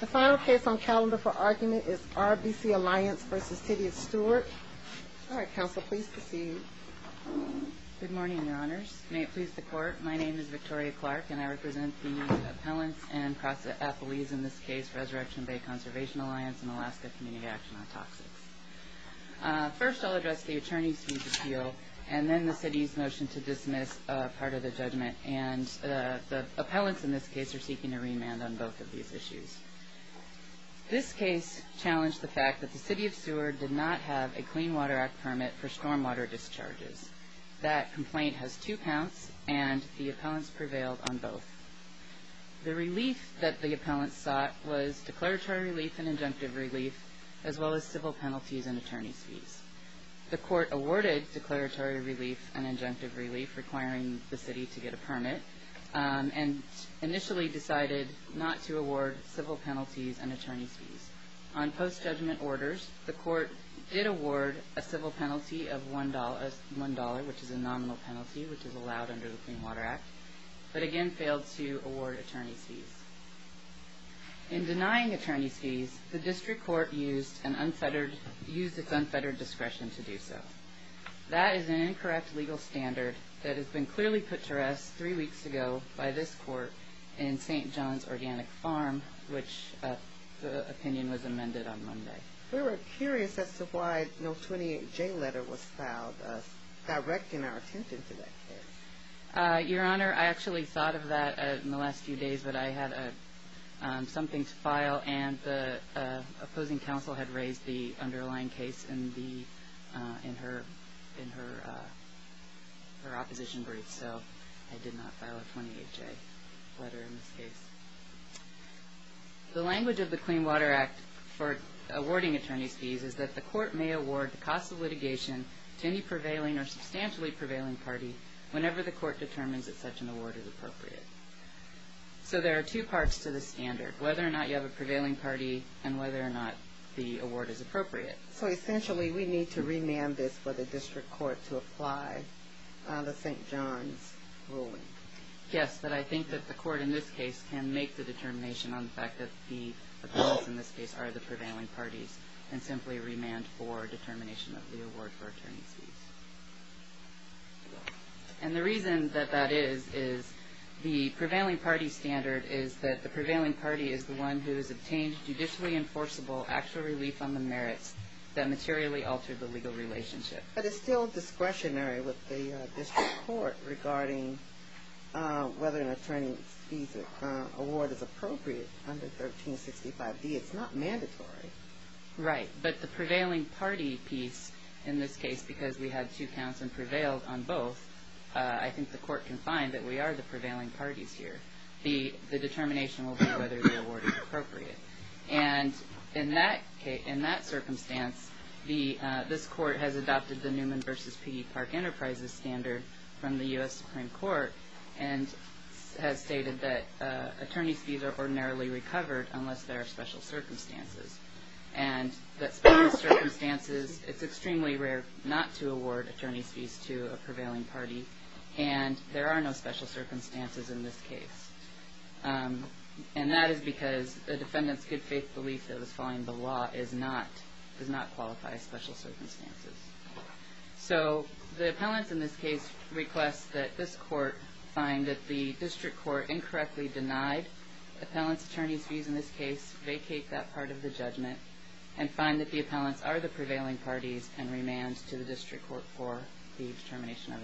The final case on calendar for argument is RBC Alliance v. City of Seward. All right, Counsel, please proceed. Good morning, Your Honors. May it please the Court, my name is Victoria Clark, and I represent the appellants and appellees in this case, Resurrection Bay Conservation Alliance and Alaska Community Action on Toxics. First, I'll address the Attorney's Appeal, and then the City's motion to dismiss part of the judgment. And the appellants in this case are seeking a remand on both of these issues. This case challenged the fact that the City of Seward did not have a Clean Water Act permit for stormwater discharges. That complaint has two counts, and the appellants prevailed on both. The relief that the appellants sought was declaratory relief and injunctive relief, as well as civil penalties and attorney's fees. The Court awarded declaratory relief and injunctive relief, requiring the City to get a permit, and initially decided not to award civil penalties and attorney's fees. On post-judgment orders, the Court did award a civil penalty of $1, which is a nominal penalty, which is allowed under the Clean Water Act, In denying attorney's fees, the District Court used its unfettered discretion to do so. That is an incorrect legal standard that has been clearly put to rest three weeks ago by this Court in St. John's Organic Farm, which the opinion was amended on Monday. We were curious as to why no 28J letter was filed directing our attention to that case. Your Honor, I actually thought of that in the last few days, but I had something to file, and the opposing counsel had raised the underlying case in her opposition brief, so I did not file a 28J letter in this case. The language of the Clean Water Act for awarding attorney's fees is that the Court may award the cost of litigation to any prevailing or substantially prevailing party whenever the Court determines that such an award is appropriate. So there are two parts to this standard, whether or not you have a prevailing party and whether or not the award is appropriate. So essentially, we need to remand this for the District Court to apply the St. John's ruling. Yes, but I think that the Court in this case can make the determination on the fact that the opponents in this case are the prevailing parties and simply remand for determination of the award for attorney's fees. And the reason that that is is the prevailing party standard is that the prevailing party is the one who has obtained judicially enforceable actual relief on the merits that materially altered the legal relationship. But it's still discretionary with the District Court regarding whether an attorney's fees award is appropriate under 1365B. It's not mandatory. Right, but the prevailing party piece in this case, because we had two counts and prevailed on both, I think the Court can find that we are the prevailing parties here. The determination will be whether the award is appropriate. And in that circumstance, this Court has adopted the Newman v. Piggy Park Enterprises standard from the U.S. Supreme Court and has stated that attorney's fees are ordinarily recovered unless there are special circumstances. And that special circumstances, it's extremely rare not to award attorney's fees to a prevailing party, and there are no special circumstances in this case. And that is because the defendant's good faith belief that was following the law does not qualify as special circumstances. So the appellants in this case request that this Court find that the District Court incorrectly denied appellant's attorney's fees in this case, vacate that part of the judgment, and find that the appellants are the prevailing parties and remand to the District Court for the determination of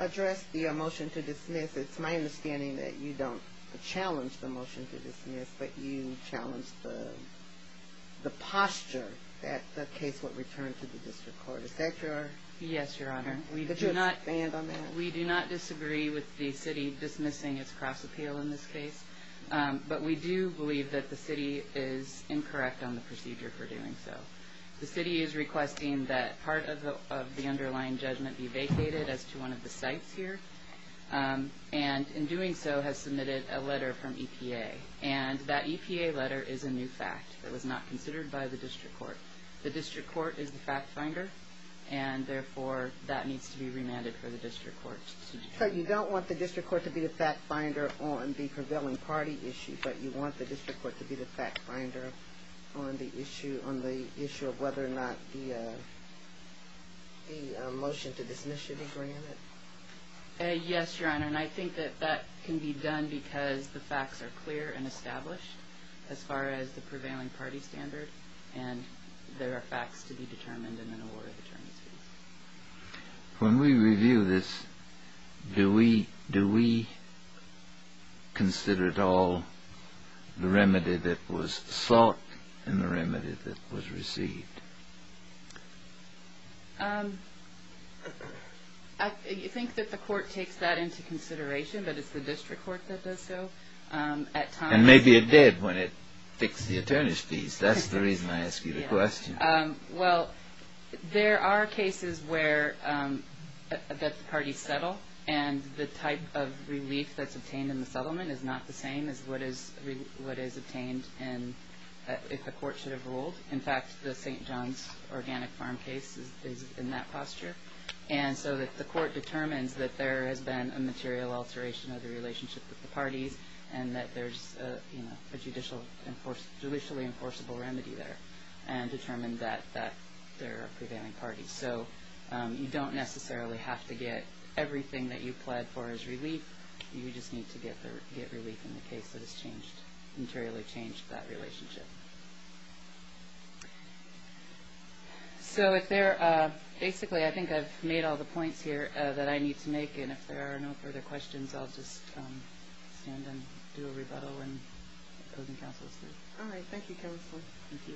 attorney's fees. It's my understanding that you don't challenge the motion to dismiss, but you challenge the posture that the case would return to the District Court. Is that correct? Yes, Your Honor. Could you expand on that? We do not disagree with the City dismissing its cross-appeal in this case, but we do believe that the City is incorrect on the procedure for doing so. The City is requesting that part of the underlying judgment be vacated as to one of the sites here, and in doing so has submitted a letter from EPA. And that EPA letter is a new fact. It was not considered by the District Court. The District Court is the fact finder, and therefore that needs to be remanded for the District Court to determine. So you don't want the District Court to be the fact finder on the prevailing party issue, but you want the District Court to be the fact finder on the issue of whether or not the motion to dismiss should be granted? Yes, Your Honor, and I think that that can be done because the facts are clear and established as far as the prevailing party standard, and there are facts to be determined in an award of attorney's fees. When we review this, do we consider at all the remedy that was sought and the remedy that was received? I think that the Court takes that into consideration, but it's the District Court that does so. And maybe it did when it fixed the attorney's fees. That's the reason I ask you the question. Well, there are cases where the parties settle, and the type of relief that's obtained in the settlement is not the same as what is obtained if the Court should have ruled. In fact, the St. John's Organic Farm case is in that posture. And so the Court determines that there has been a material alteration of the relationship with the parties and that there's a judicially enforceable remedy there and determined that they're a prevailing party. So you don't necessarily have to get everything that you pled for as relief. You just need to get relief in the case that has changed, materially changed that relationship. So basically, I think I've made all the points here that I need to make, and if there are no further questions, I'll just stand and do a rebuttal when the opposing counsel is through. All right, thank you, Counselor. Thank you.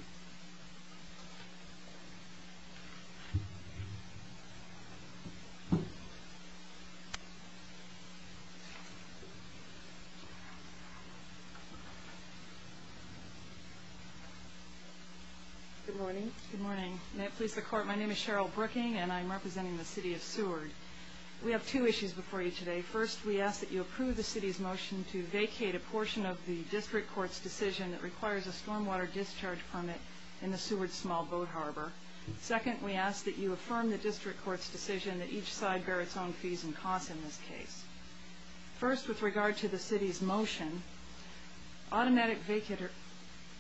Good morning. Good morning. May it please the Court, my name is Cheryl Brooking, and I'm representing the City of Seward. We have two issues before you today. First, we ask that you approve the City's motion to vacate a portion of the District Court's decision that requires a stormwater discharge permit in the Seward Small Boat Harbor. Second, we ask that you affirm the District Court's decision that each side bear its own fees and costs in this case. First, with regard to the City's motion, automatic vacater,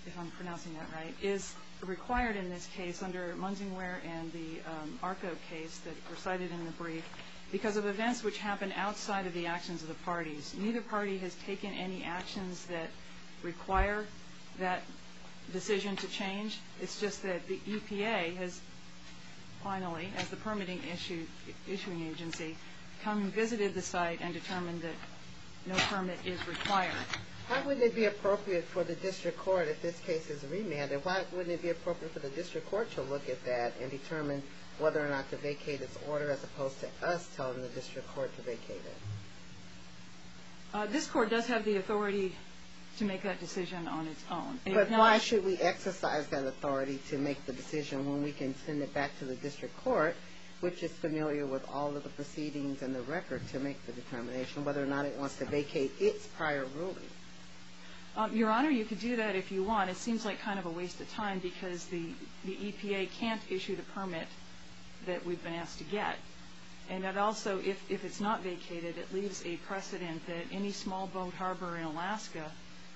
if I'm pronouncing that right, is required in this case under Munsingwear and the Arco case that were cited in the brief because of events which happened outside of the actions of the parties. Neither party has taken any actions that require that decision to change. It's just that the EPA has finally, as the permitting issuing agency, come and visited the site and determined that no permit is required. How would it be appropriate for the District Court, if this case is remanded, why wouldn't it be appropriate for the District Court to look at that and determine whether or not to vacate its order as opposed to us telling the District Court to vacate it? This Court does have the authority to make that decision on its own. But why should we exercise that authority to make the decision when we can send it back to the District Court, which is familiar with all of the proceedings and the record to make the determination whether or not it wants to vacate its prior ruling? Your Honor, you could do that if you want. It seems like kind of a waste of time because the EPA can't issue the permit that we've been asked to get. And that also, if it's not vacated, it leaves a precedent that any small boat harbor in Alaska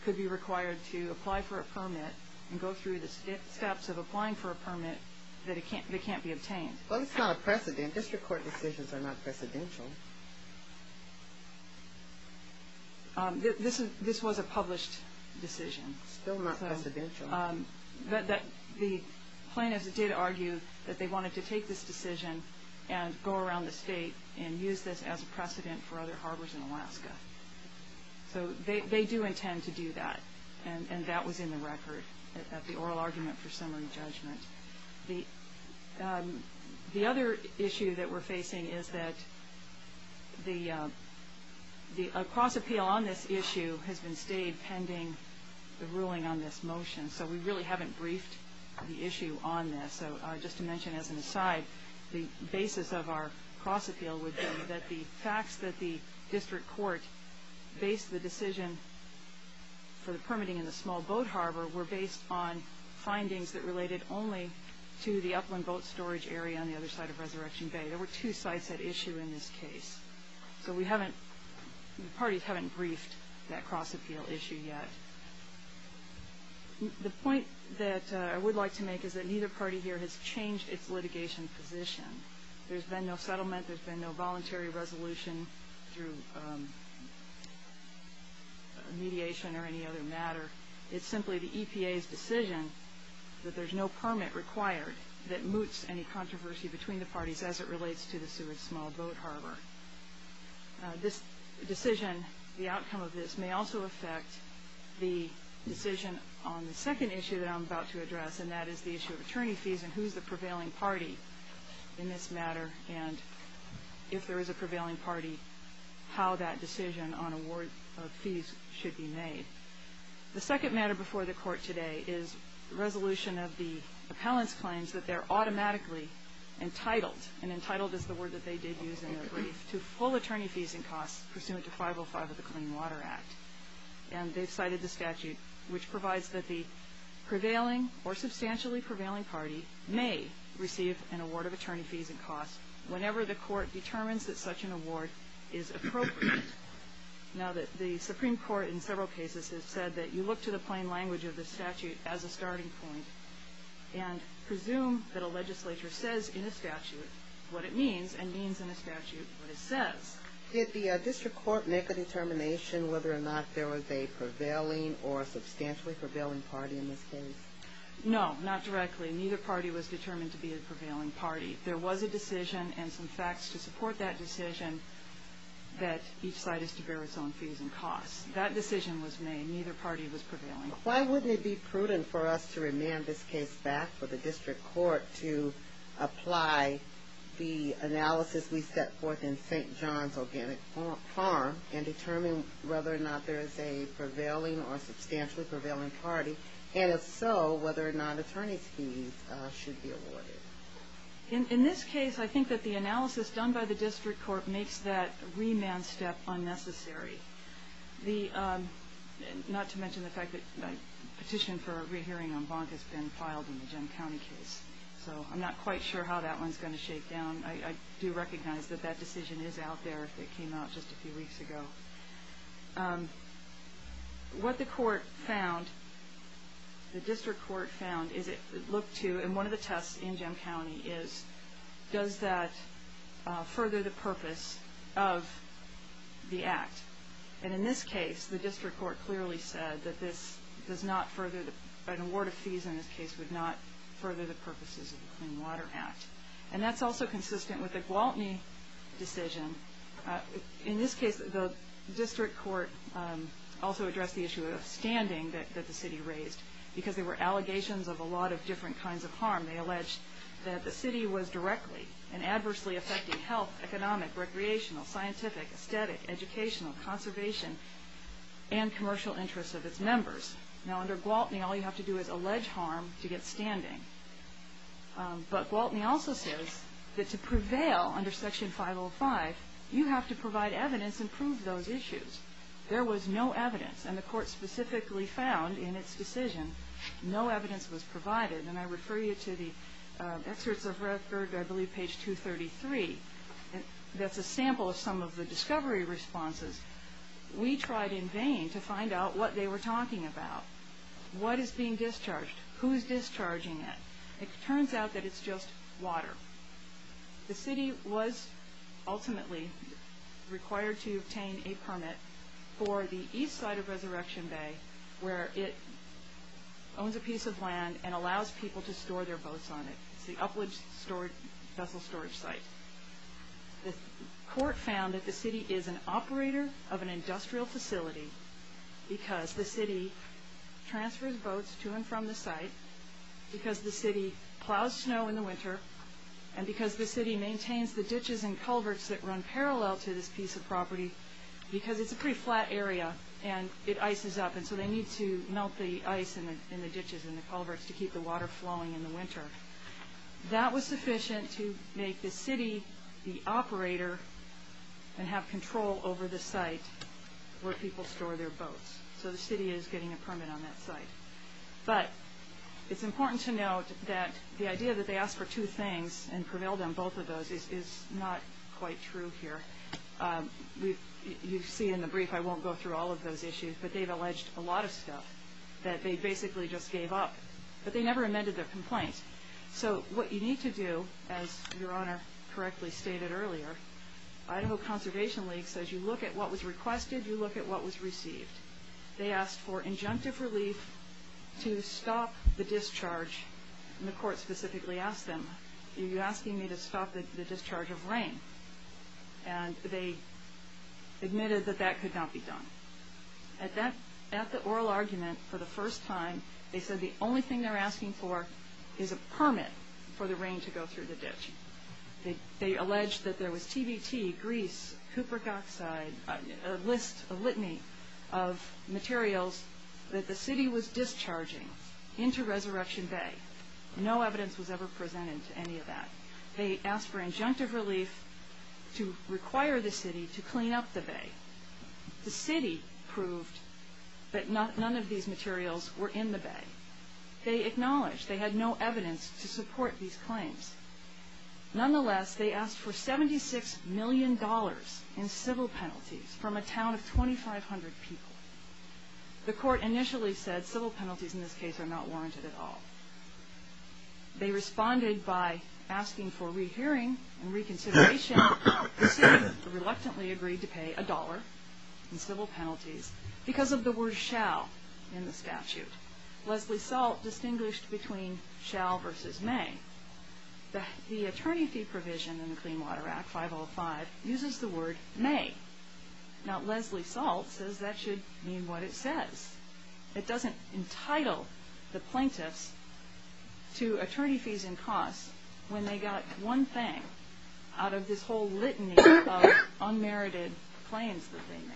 could be required to apply for a permit and go through the steps of applying for a permit that can't be obtained. Well, it's not a precedent. District Court decisions are not precedential. This was a published decision. Still not precedential. The plaintiffs did argue that they wanted to take this decision and go around the state and use this as a precedent for other harbors in Alaska. So they do intend to do that, and that was in the record at the oral argument for summary judgment. The other issue that we're facing is that a cross-appeal on this issue has been stayed pending the ruling on this motion. So we really haven't briefed the issue on this. So just to mention as an aside, the basis of our cross-appeal would be that the facts that the District Court based the decision for the permitting in the small boat harbor were based on findings that related only to the upland boat storage area on the other side of Resurrection Bay. There were two sites at issue in this case. So the parties haven't briefed that cross-appeal issue yet. The point that I would like to make is that neither party here has changed its litigation position. There's been no settlement. There's been no voluntary resolution through mediation or any other matter. It's simply the EPA's decision that there's no permit required that moots any controversy between the parties as it relates to the Seward Small Boat Harbor. This decision, the outcome of this, may also affect the decision on the second issue that I'm about to address, and that is the issue of attorney fees and who's the prevailing party in this matter, and if there is a prevailing party, how that decision on award of fees should be made. The second matter before the Court today is resolution of the appellant's claims that they're automatically entitled, and entitled is the word that they did use in their brief, to full attorney fees and costs pursuant to 505 of the Clean Water Act. And they've cited the statute, which provides that the prevailing or substantially prevailing party may receive an award of attorney fees and costs whenever the Court determines that such an award is appropriate. Now, the Supreme Court in several cases has said that you look to the plain language of the statute as a starting point and presume that a legislature says in a statute what it means, and means in a statute what it says. Did the District Court make a determination whether or not there was a prevailing or substantially prevailing party in this case? No, not directly. Neither party was determined to be a prevailing party. There was a decision and some facts to support that decision that each side is to bear its own fees and costs. That decision was made. Neither party was prevailing. Why wouldn't it be prudent for us to remand this case back for the District Court to apply the analysis we set forth in St. John's Organic Farm and determine whether or not there is a prevailing or substantially prevailing party, and if so, whether or not attorney fees should be awarded? In this case, I think that the analysis done by the District Court makes that remand step unnecessary. Not to mention the fact that a petition for a re-hearing on Bonk has been filed in the Jim County case. So I'm not quite sure how that one's going to shake down. I do recognize that that decision is out there. It came out just a few weeks ago. What the District Court found is it looked to, and one of the tests in Jim County is, does that further the purpose of the Act? And in this case, the District Court clearly said that an award of fees in this case would not further the purposes of the Clean Water Act. And that's also consistent with the Gwaltney decision. In this case, the District Court also addressed the issue of standing that the city raised, because there were allegations of a lot of different kinds of harm. They alleged that the city was directly and adversely affecting health, economic, recreational, scientific, aesthetic, educational, conservation, and commercial interests of its members. Now under Gwaltney, all you have to do is allege harm to get standing. But Gwaltney also says that to prevail under Section 505, you have to provide evidence and prove those issues. There was no evidence, and the Court specifically found in its decision no evidence was provided. And I refer you to the excerpts of record, I believe page 233, that's a sample of some of the discovery responses. We tried in vain to find out what they were talking about. What is being discharged? Who is discharging it? It turns out that it's just water. The city was ultimately required to obtain a permit for the east side of Resurrection Bay where it owns a piece of land and allows people to store their boats on it. It's the upwards vessel storage site. The Court found that the city is an operator of an industrial facility because the city transfers boats to and from the site, because the city plows snow in the winter, and because the city maintains the ditches and culverts that run parallel to this piece of property because it's a pretty flat area and it ices up, and so they need to melt the ice in the ditches and the culverts to keep the water flowing in the winter. That was sufficient to make the city the operator and have control over the site where people store their boats. So the city is getting a permit on that site. But it's important to note that the idea that they asked for two things and prevailed on both of those is not quite true here. You see in the brief, I won't go through all of those issues, but they've alleged a lot of stuff that they basically just gave up, but they never amended their complaint. So what you need to do, as Your Honor correctly stated earlier, Idaho Conservation League says you look at what was requested, you look at what was received. They asked for injunctive relief to stop the discharge, and the Court specifically asked them, are you asking me to stop the discharge of rain? And they admitted that that could not be done. At the oral argument for the first time, they said the only thing they're asking for is a permit for the rain to go through the ditch. They alleged that there was TBT, grease, cupric oxide, a list, a litany of materials that the city was discharging into Resurrection Bay. No evidence was ever presented to any of that. They asked for injunctive relief to require the city to clean up the bay. The city proved that none of these materials were in the bay. They acknowledged they had no evidence to support these claims. Nonetheless, they asked for $76 million in civil penalties from a town of 2,500 people. The Court initially said civil penalties in this case are not warranted at all. They responded by asking for rehearing and reconsideration. The city reluctantly agreed to pay a dollar in civil penalties because of the word shall in the statute. Leslie Salt distinguished between shall versus may. The attorney fee provision in the Clean Water Act, 505, uses the word may. Now Leslie Salt says that should mean what it says. It doesn't entitle the plaintiffs to attorney fees and costs when they got one thing out of this whole litany of unmerited claims that they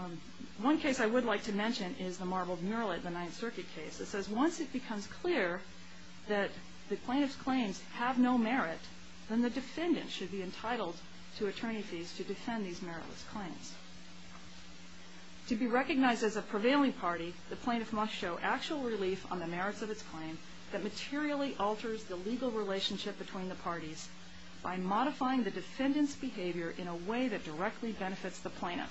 made. One case I would like to mention is the Marbled Mural at the Ninth Circuit case. It says once it becomes clear that the plaintiff's claims have no merit, then the defendant should be entitled to attorney fees to defend these meritless claims. To be recognized as a prevailing party, the plaintiff must show actual relief on the merits of its claim that materially alters the legal relationship between the parties by modifying the defendant's behavior in a way that directly benefits the plaintiff.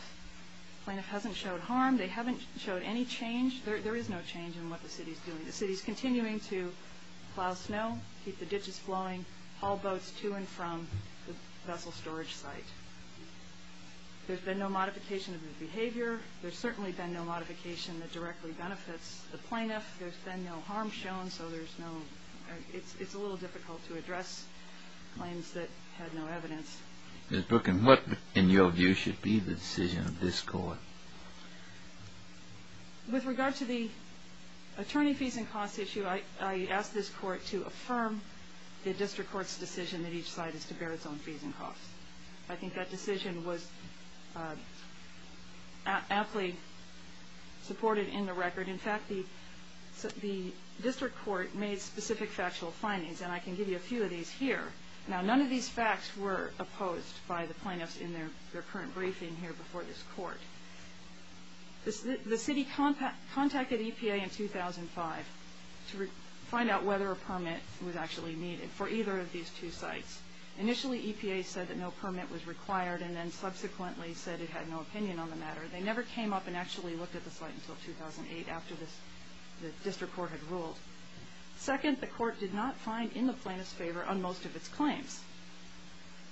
The plaintiff hasn't showed harm. They haven't showed any change. There is no change in what the city is doing. The city is continuing to plow snow, keep the ditches flowing, haul boats to and from the vessel storage site. There's been no modification of the behavior. There's certainly been no modification that directly benefits the plaintiff. There's been no harm shown. So it's a little difficult to address claims that had no evidence. Ms. Brooklyn, what, in your view, should be the decision of this Court? With regard to the attorney fees and costs issue, I ask this Court to affirm the district court's decision that each side is to bear its own fees and costs. I think that decision was aptly supported in the record. In fact, the district court made specific factual findings, and I can give you a few of these here. Now, none of these facts were opposed by the plaintiffs in their current briefing here before this Court. The city contacted EPA in 2005 to find out whether a permit was actually needed for either of these two sites. Initially, EPA said that no permit was required, and then subsequently said it had no opinion on the matter. They never came up and actually looked at the site until 2008, after the district court had ruled. Second, the court did not find in the plaintiffs' favor on most of its claims.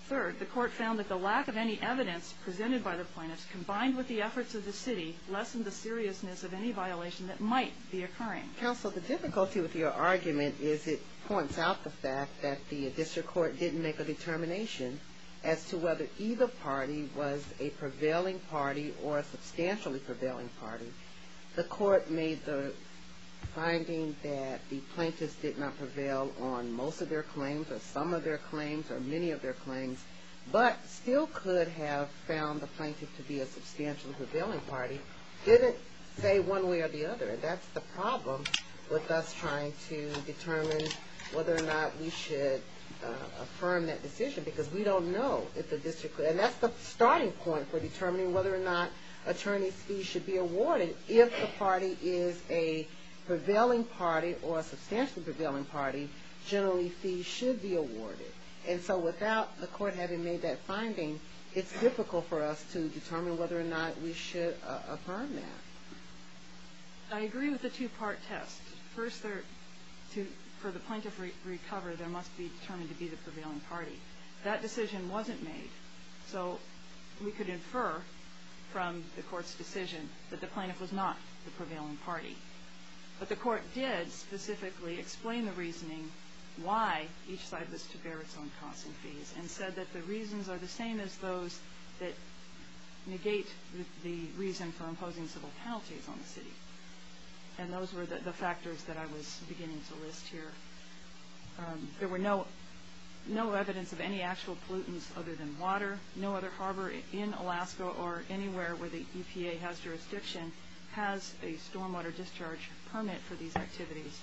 Third, the court found that the lack of any evidence presented by the plaintiffs, combined with the efforts of the city, lessened the seriousness of any violation that might be occurring. Counsel, the difficulty with your argument is it points out the fact that the district court didn't make a determination as to whether either party was a prevailing party or a substantially prevailing party. The court made the finding that the plaintiffs did not prevail on most of their claims or some of their claims or many of their claims, but still could have found the plaintiff to be a substantially prevailing party. It didn't say one way or the other. That's the problem with us trying to determine whether or not we should affirm that decision because we don't know if the district court and that's the starting point for determining whether or not attorneys' fees should be awarded. If the party is a prevailing party or a substantially prevailing party, generally fees should be awarded. And so without the court having made that finding, it's difficult for us to determine whether or not we should affirm that. I agree with the two-part test. First, for the plaintiff to recover, there must be determined to be the prevailing party. That decision wasn't made, so we could infer from the court's decision that the plaintiff was not the prevailing party. But the court did specifically explain the reasoning why each side was to bear its own costs and fees and said that the reasons are the same as those that negate the reason for imposing civil penalties on the city. And those were the factors that I was beginning to list here. There were no evidence of any actual pollutants other than water. No other harbor in Alaska or anywhere where the EPA has jurisdiction has a stormwater discharge permit for these activities.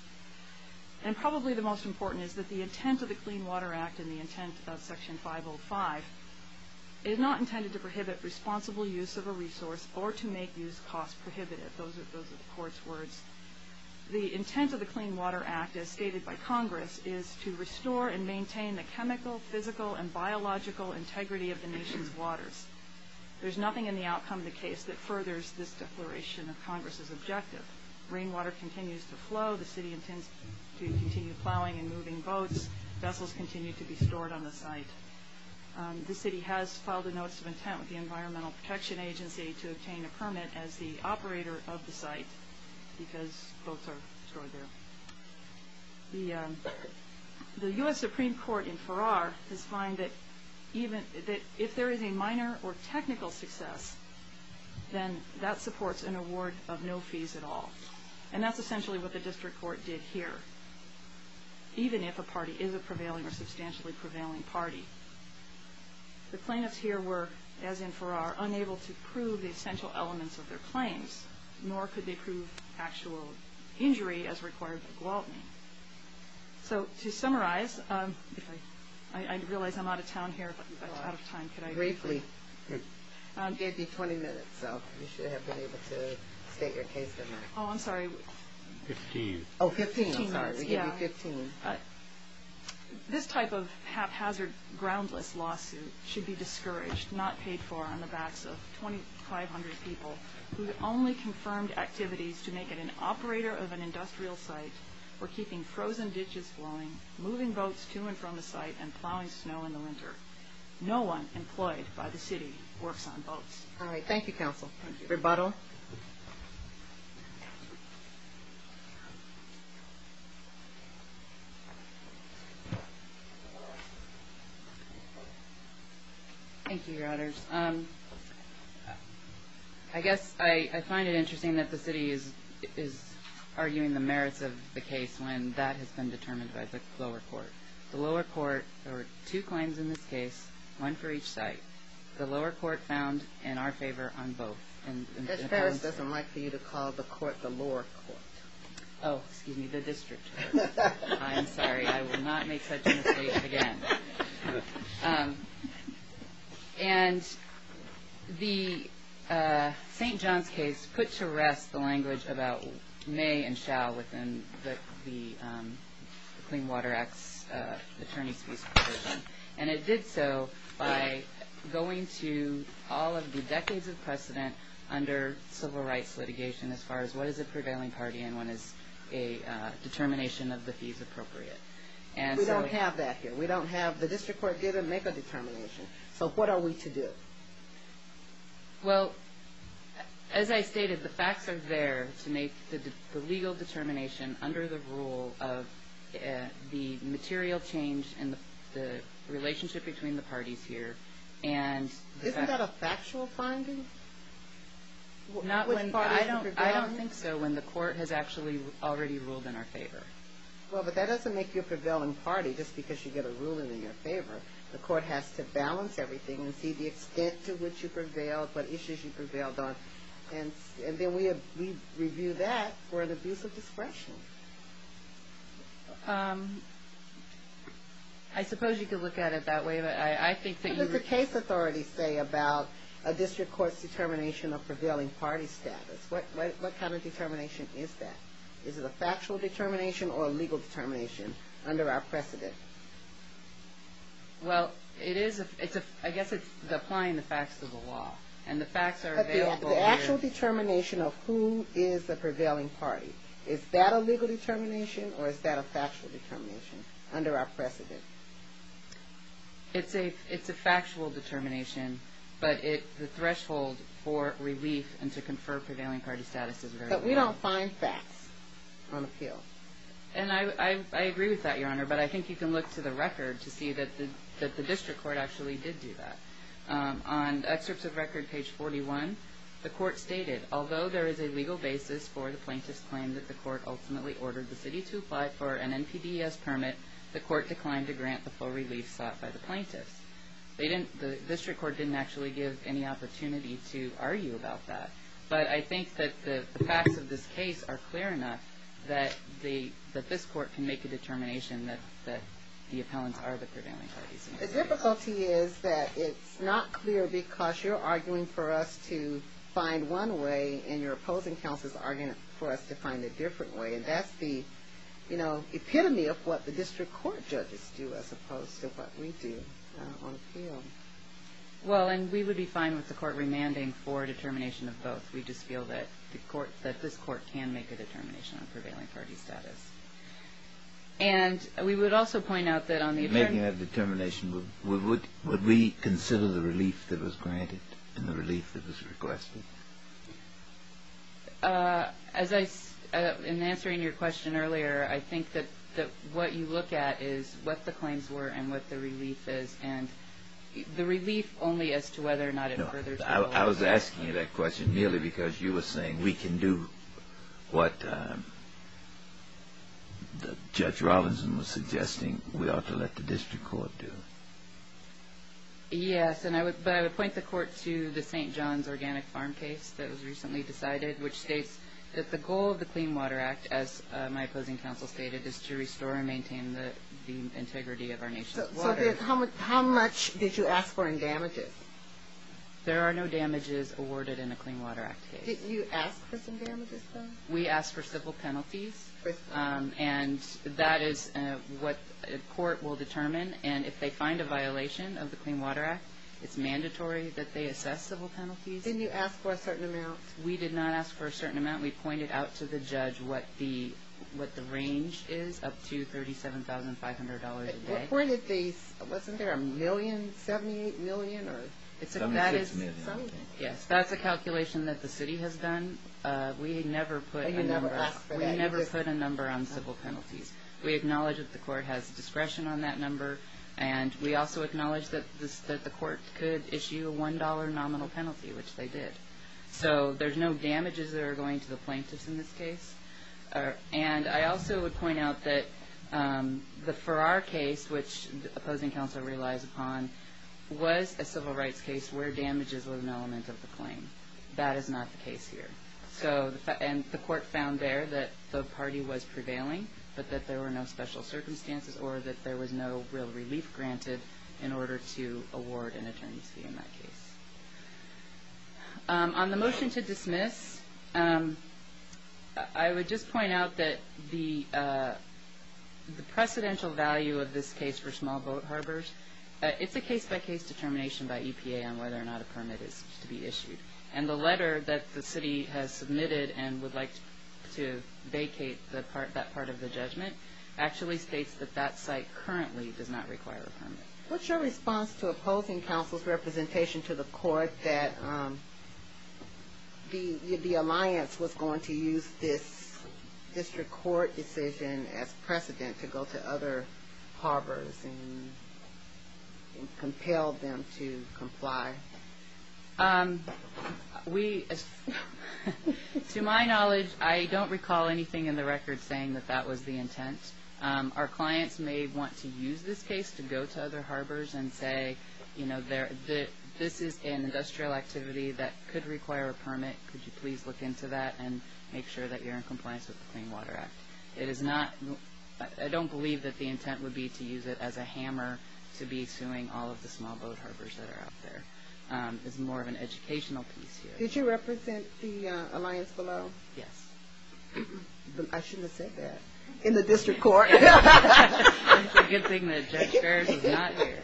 And probably the most important is that the intent of the Clean Water Act and the intent of Section 505 is not intended to prohibit responsible use of a resource or to make use costs prohibitive. Those are the court's words. The intent of the Clean Water Act, as stated by Congress, is to restore and maintain the chemical, physical, and biological integrity of the nation's waters. There's nothing in the outcome of the case that furthers this declaration of Congress's objective. Rainwater continues to flow. The city intends to continue plowing and moving boats. Vessels continue to be stored on the site. The city has filed a notice of intent with the Environmental Protection Agency to obtain a permit as the operator of the site because boats are stored there. The U.S. Supreme Court in Farrar has fined that if there is a minor or technical success, then that supports an award of no fees at all. And that's essentially what the district court did here, even if a party is a prevailing or substantially prevailing party. The plaintiffs here were, as in Farrar, unable to prove the essential elements of their claims, nor could they prove actual injury as required by Gwaltney. So to summarize, I realize I'm out of town here, but out of time, could I briefly? You gave me 20 minutes, so you should have been able to state your case number. Oh, I'm sorry. Fifteen. Oh, 15, I'm sorry. You gave me 15. This type of haphazard, groundless lawsuit should be discouraged, not paid for, on the backs of 2,500 people who only confirmed activities to make it an operator of an industrial site or keeping frozen ditches flowing, moving boats to and from the site, and plowing snow in the winter. No one employed by the city works on boats. All right. Thank you, counsel. Thank you. Rebuttal. Thank you, Your Honors. I guess I find it interesting that the city is arguing the merits of the case when that has been determined by the lower court. The lower court, there were two claims in this case, one for each site. The lower court found in our favor on both. Judge Ferris doesn't like for you to call the court the lower court. Oh, excuse me, the district court. I'm sorry. I will not make such a mistake again. And the St. John's case put to rest the language about may and shall within the Clean Water Act's attorney's brief provision. And it did so by going to all of the decades of precedent under civil rights litigation as far as what is a prevailing party and what is a determination of the fees appropriate. We don't have that here. The district court didn't make a determination. So what are we to do? Well, as I stated, the facts are there to make the legal determination under the rule of the material change in the relationship between the parties here. Isn't that a factual finding? I don't think so when the court has actually already ruled in our favor. Well, but that doesn't make you a prevailing party just because you get a ruling in your favor. The court has to balance everything and see the extent to which you prevailed, what issues you prevailed on. And then we review that for an abuse of discretion. I suppose you could look at it that way, but I think that you would. What does the case authority say about a district court's determination of prevailing party status? What kind of determination is that? Is it a factual determination or a legal determination under our precedent? Well, I guess it's applying the facts to the law, and the facts are available here. But the actual determination of who is a prevailing party, is that a legal determination or is that a factual determination under our precedent? It's a factual determination, but the threshold for relief and to confer prevailing party status is very low. But we don't find facts on appeal. And I agree with that, Your Honor, but I think you can look to the record to see that the district court actually did do that. On excerpts of record page 41, the court stated, although there is a legal basis for the plaintiff's claim that the court ultimately ordered the city to apply for an NPDES permit, the court declined to grant the full relief sought by the plaintiffs. The district court didn't actually give any opportunity to argue about that. But I think that the facts of this case are clear enough that this court can make a determination that the appellants are the prevailing parties. The difficulty is that it's not clear because you're arguing for us to find one way, and you're opposing counsel is arguing for us to find a different way. And that's the epitome of what the district court judges do as opposed to what we do on appeal. Well, and we would be fine with the court remanding for a determination of both. We just feel that this court can make a determination on prevailing party status. And we would also point out that on the attorney... Making that determination, would we consider the relief that was granted and the relief that was requested? In answering your question earlier, I think that what you look at is what the claims were and what the relief is. And the relief only as to whether or not it furthers... I was asking you that question merely because you were saying we can do what Judge Robinson was suggesting we ought to let the district court do. Yes, but I would point the court to the St. John's Organic Farm case that was recently decided, which states that the goal of the Clean Water Act, as my opposing counsel stated, So how much did you ask for in damages? There are no damages awarded in a Clean Water Act case. Did you ask for some damages, though? We asked for civil penalties. And that is what a court will determine. And if they find a violation of the Clean Water Act, it's mandatory that they assess civil penalties. Didn't you ask for a certain amount? We did not ask for a certain amount. We pointed out to the judge what the range is, up to $37,500 a day. Wasn't there $1,000,000? $78,000,000? $76,000,000. Yes, that's a calculation that the city has done. We never put a number on civil penalties. We acknowledge that the court has discretion on that number, and we also acknowledge that the court could issue a $1 nominal penalty, which they did. So there's no damages that are going to the plaintiffs in this case. And I also would point out that the Farrar case, which the opposing counsel relies upon, was a civil rights case where damages were an element of the claim. That is not the case here. And the court found there that the party was prevailing, but that there were no special circumstances or that there was no real relief granted in order to award an attorney's fee in that case. On the motion to dismiss, I would just point out that the precedential value of this case for small boat harbors, it's a case-by-case determination by EPA on whether or not a permit is to be issued. And the letter that the city has submitted and would like to vacate that part of the judgment actually states that that site currently does not require a permit. What's your response to opposing counsel's representation to the court that the alliance was going to use this district court decision as precedent to go to other harbors and compel them to comply? To my knowledge, I don't recall anything in the record saying that that was the intent. Our clients may want to use this case to go to other harbors and say, you know, this is an industrial activity that could require a permit. Could you please look into that and make sure that you're in compliance with the Clean Water Act? I don't believe that the intent would be to use it as a hammer to be suing all of the small boat harbors that are out there. It's more of an educational piece here. Did you represent the alliance below? Yes. I shouldn't have said that. In the district court. It's a good thing that Judge Ferris is not here.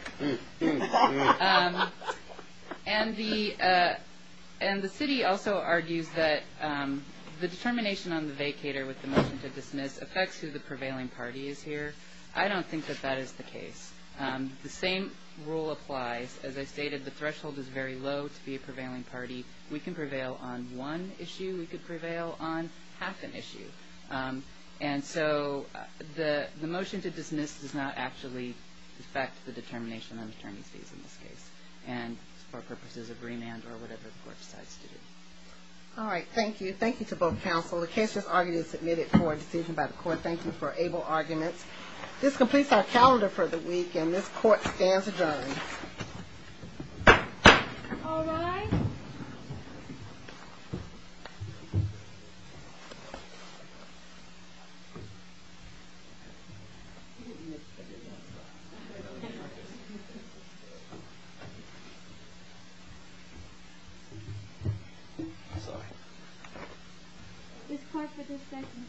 And the city also argues that the determination on the vacator with the motion to dismiss affects who the prevailing party is here. I don't think that that is the case. The same rule applies. As I stated, the threshold is very low to be a prevailing party. We can prevail on one issue. We could prevail on half an issue. And so the motion to dismiss does not actually affect the determination on the terming fees in this case. And for purposes of remand or whatever the court decides to do. All right. Thank you. Thank you to both counsel. The case has already been submitted for a decision by the court. Thank you for able arguments. This completes our calendar for the week, and this court stands adjourned. All rise. Thank you. Thank you.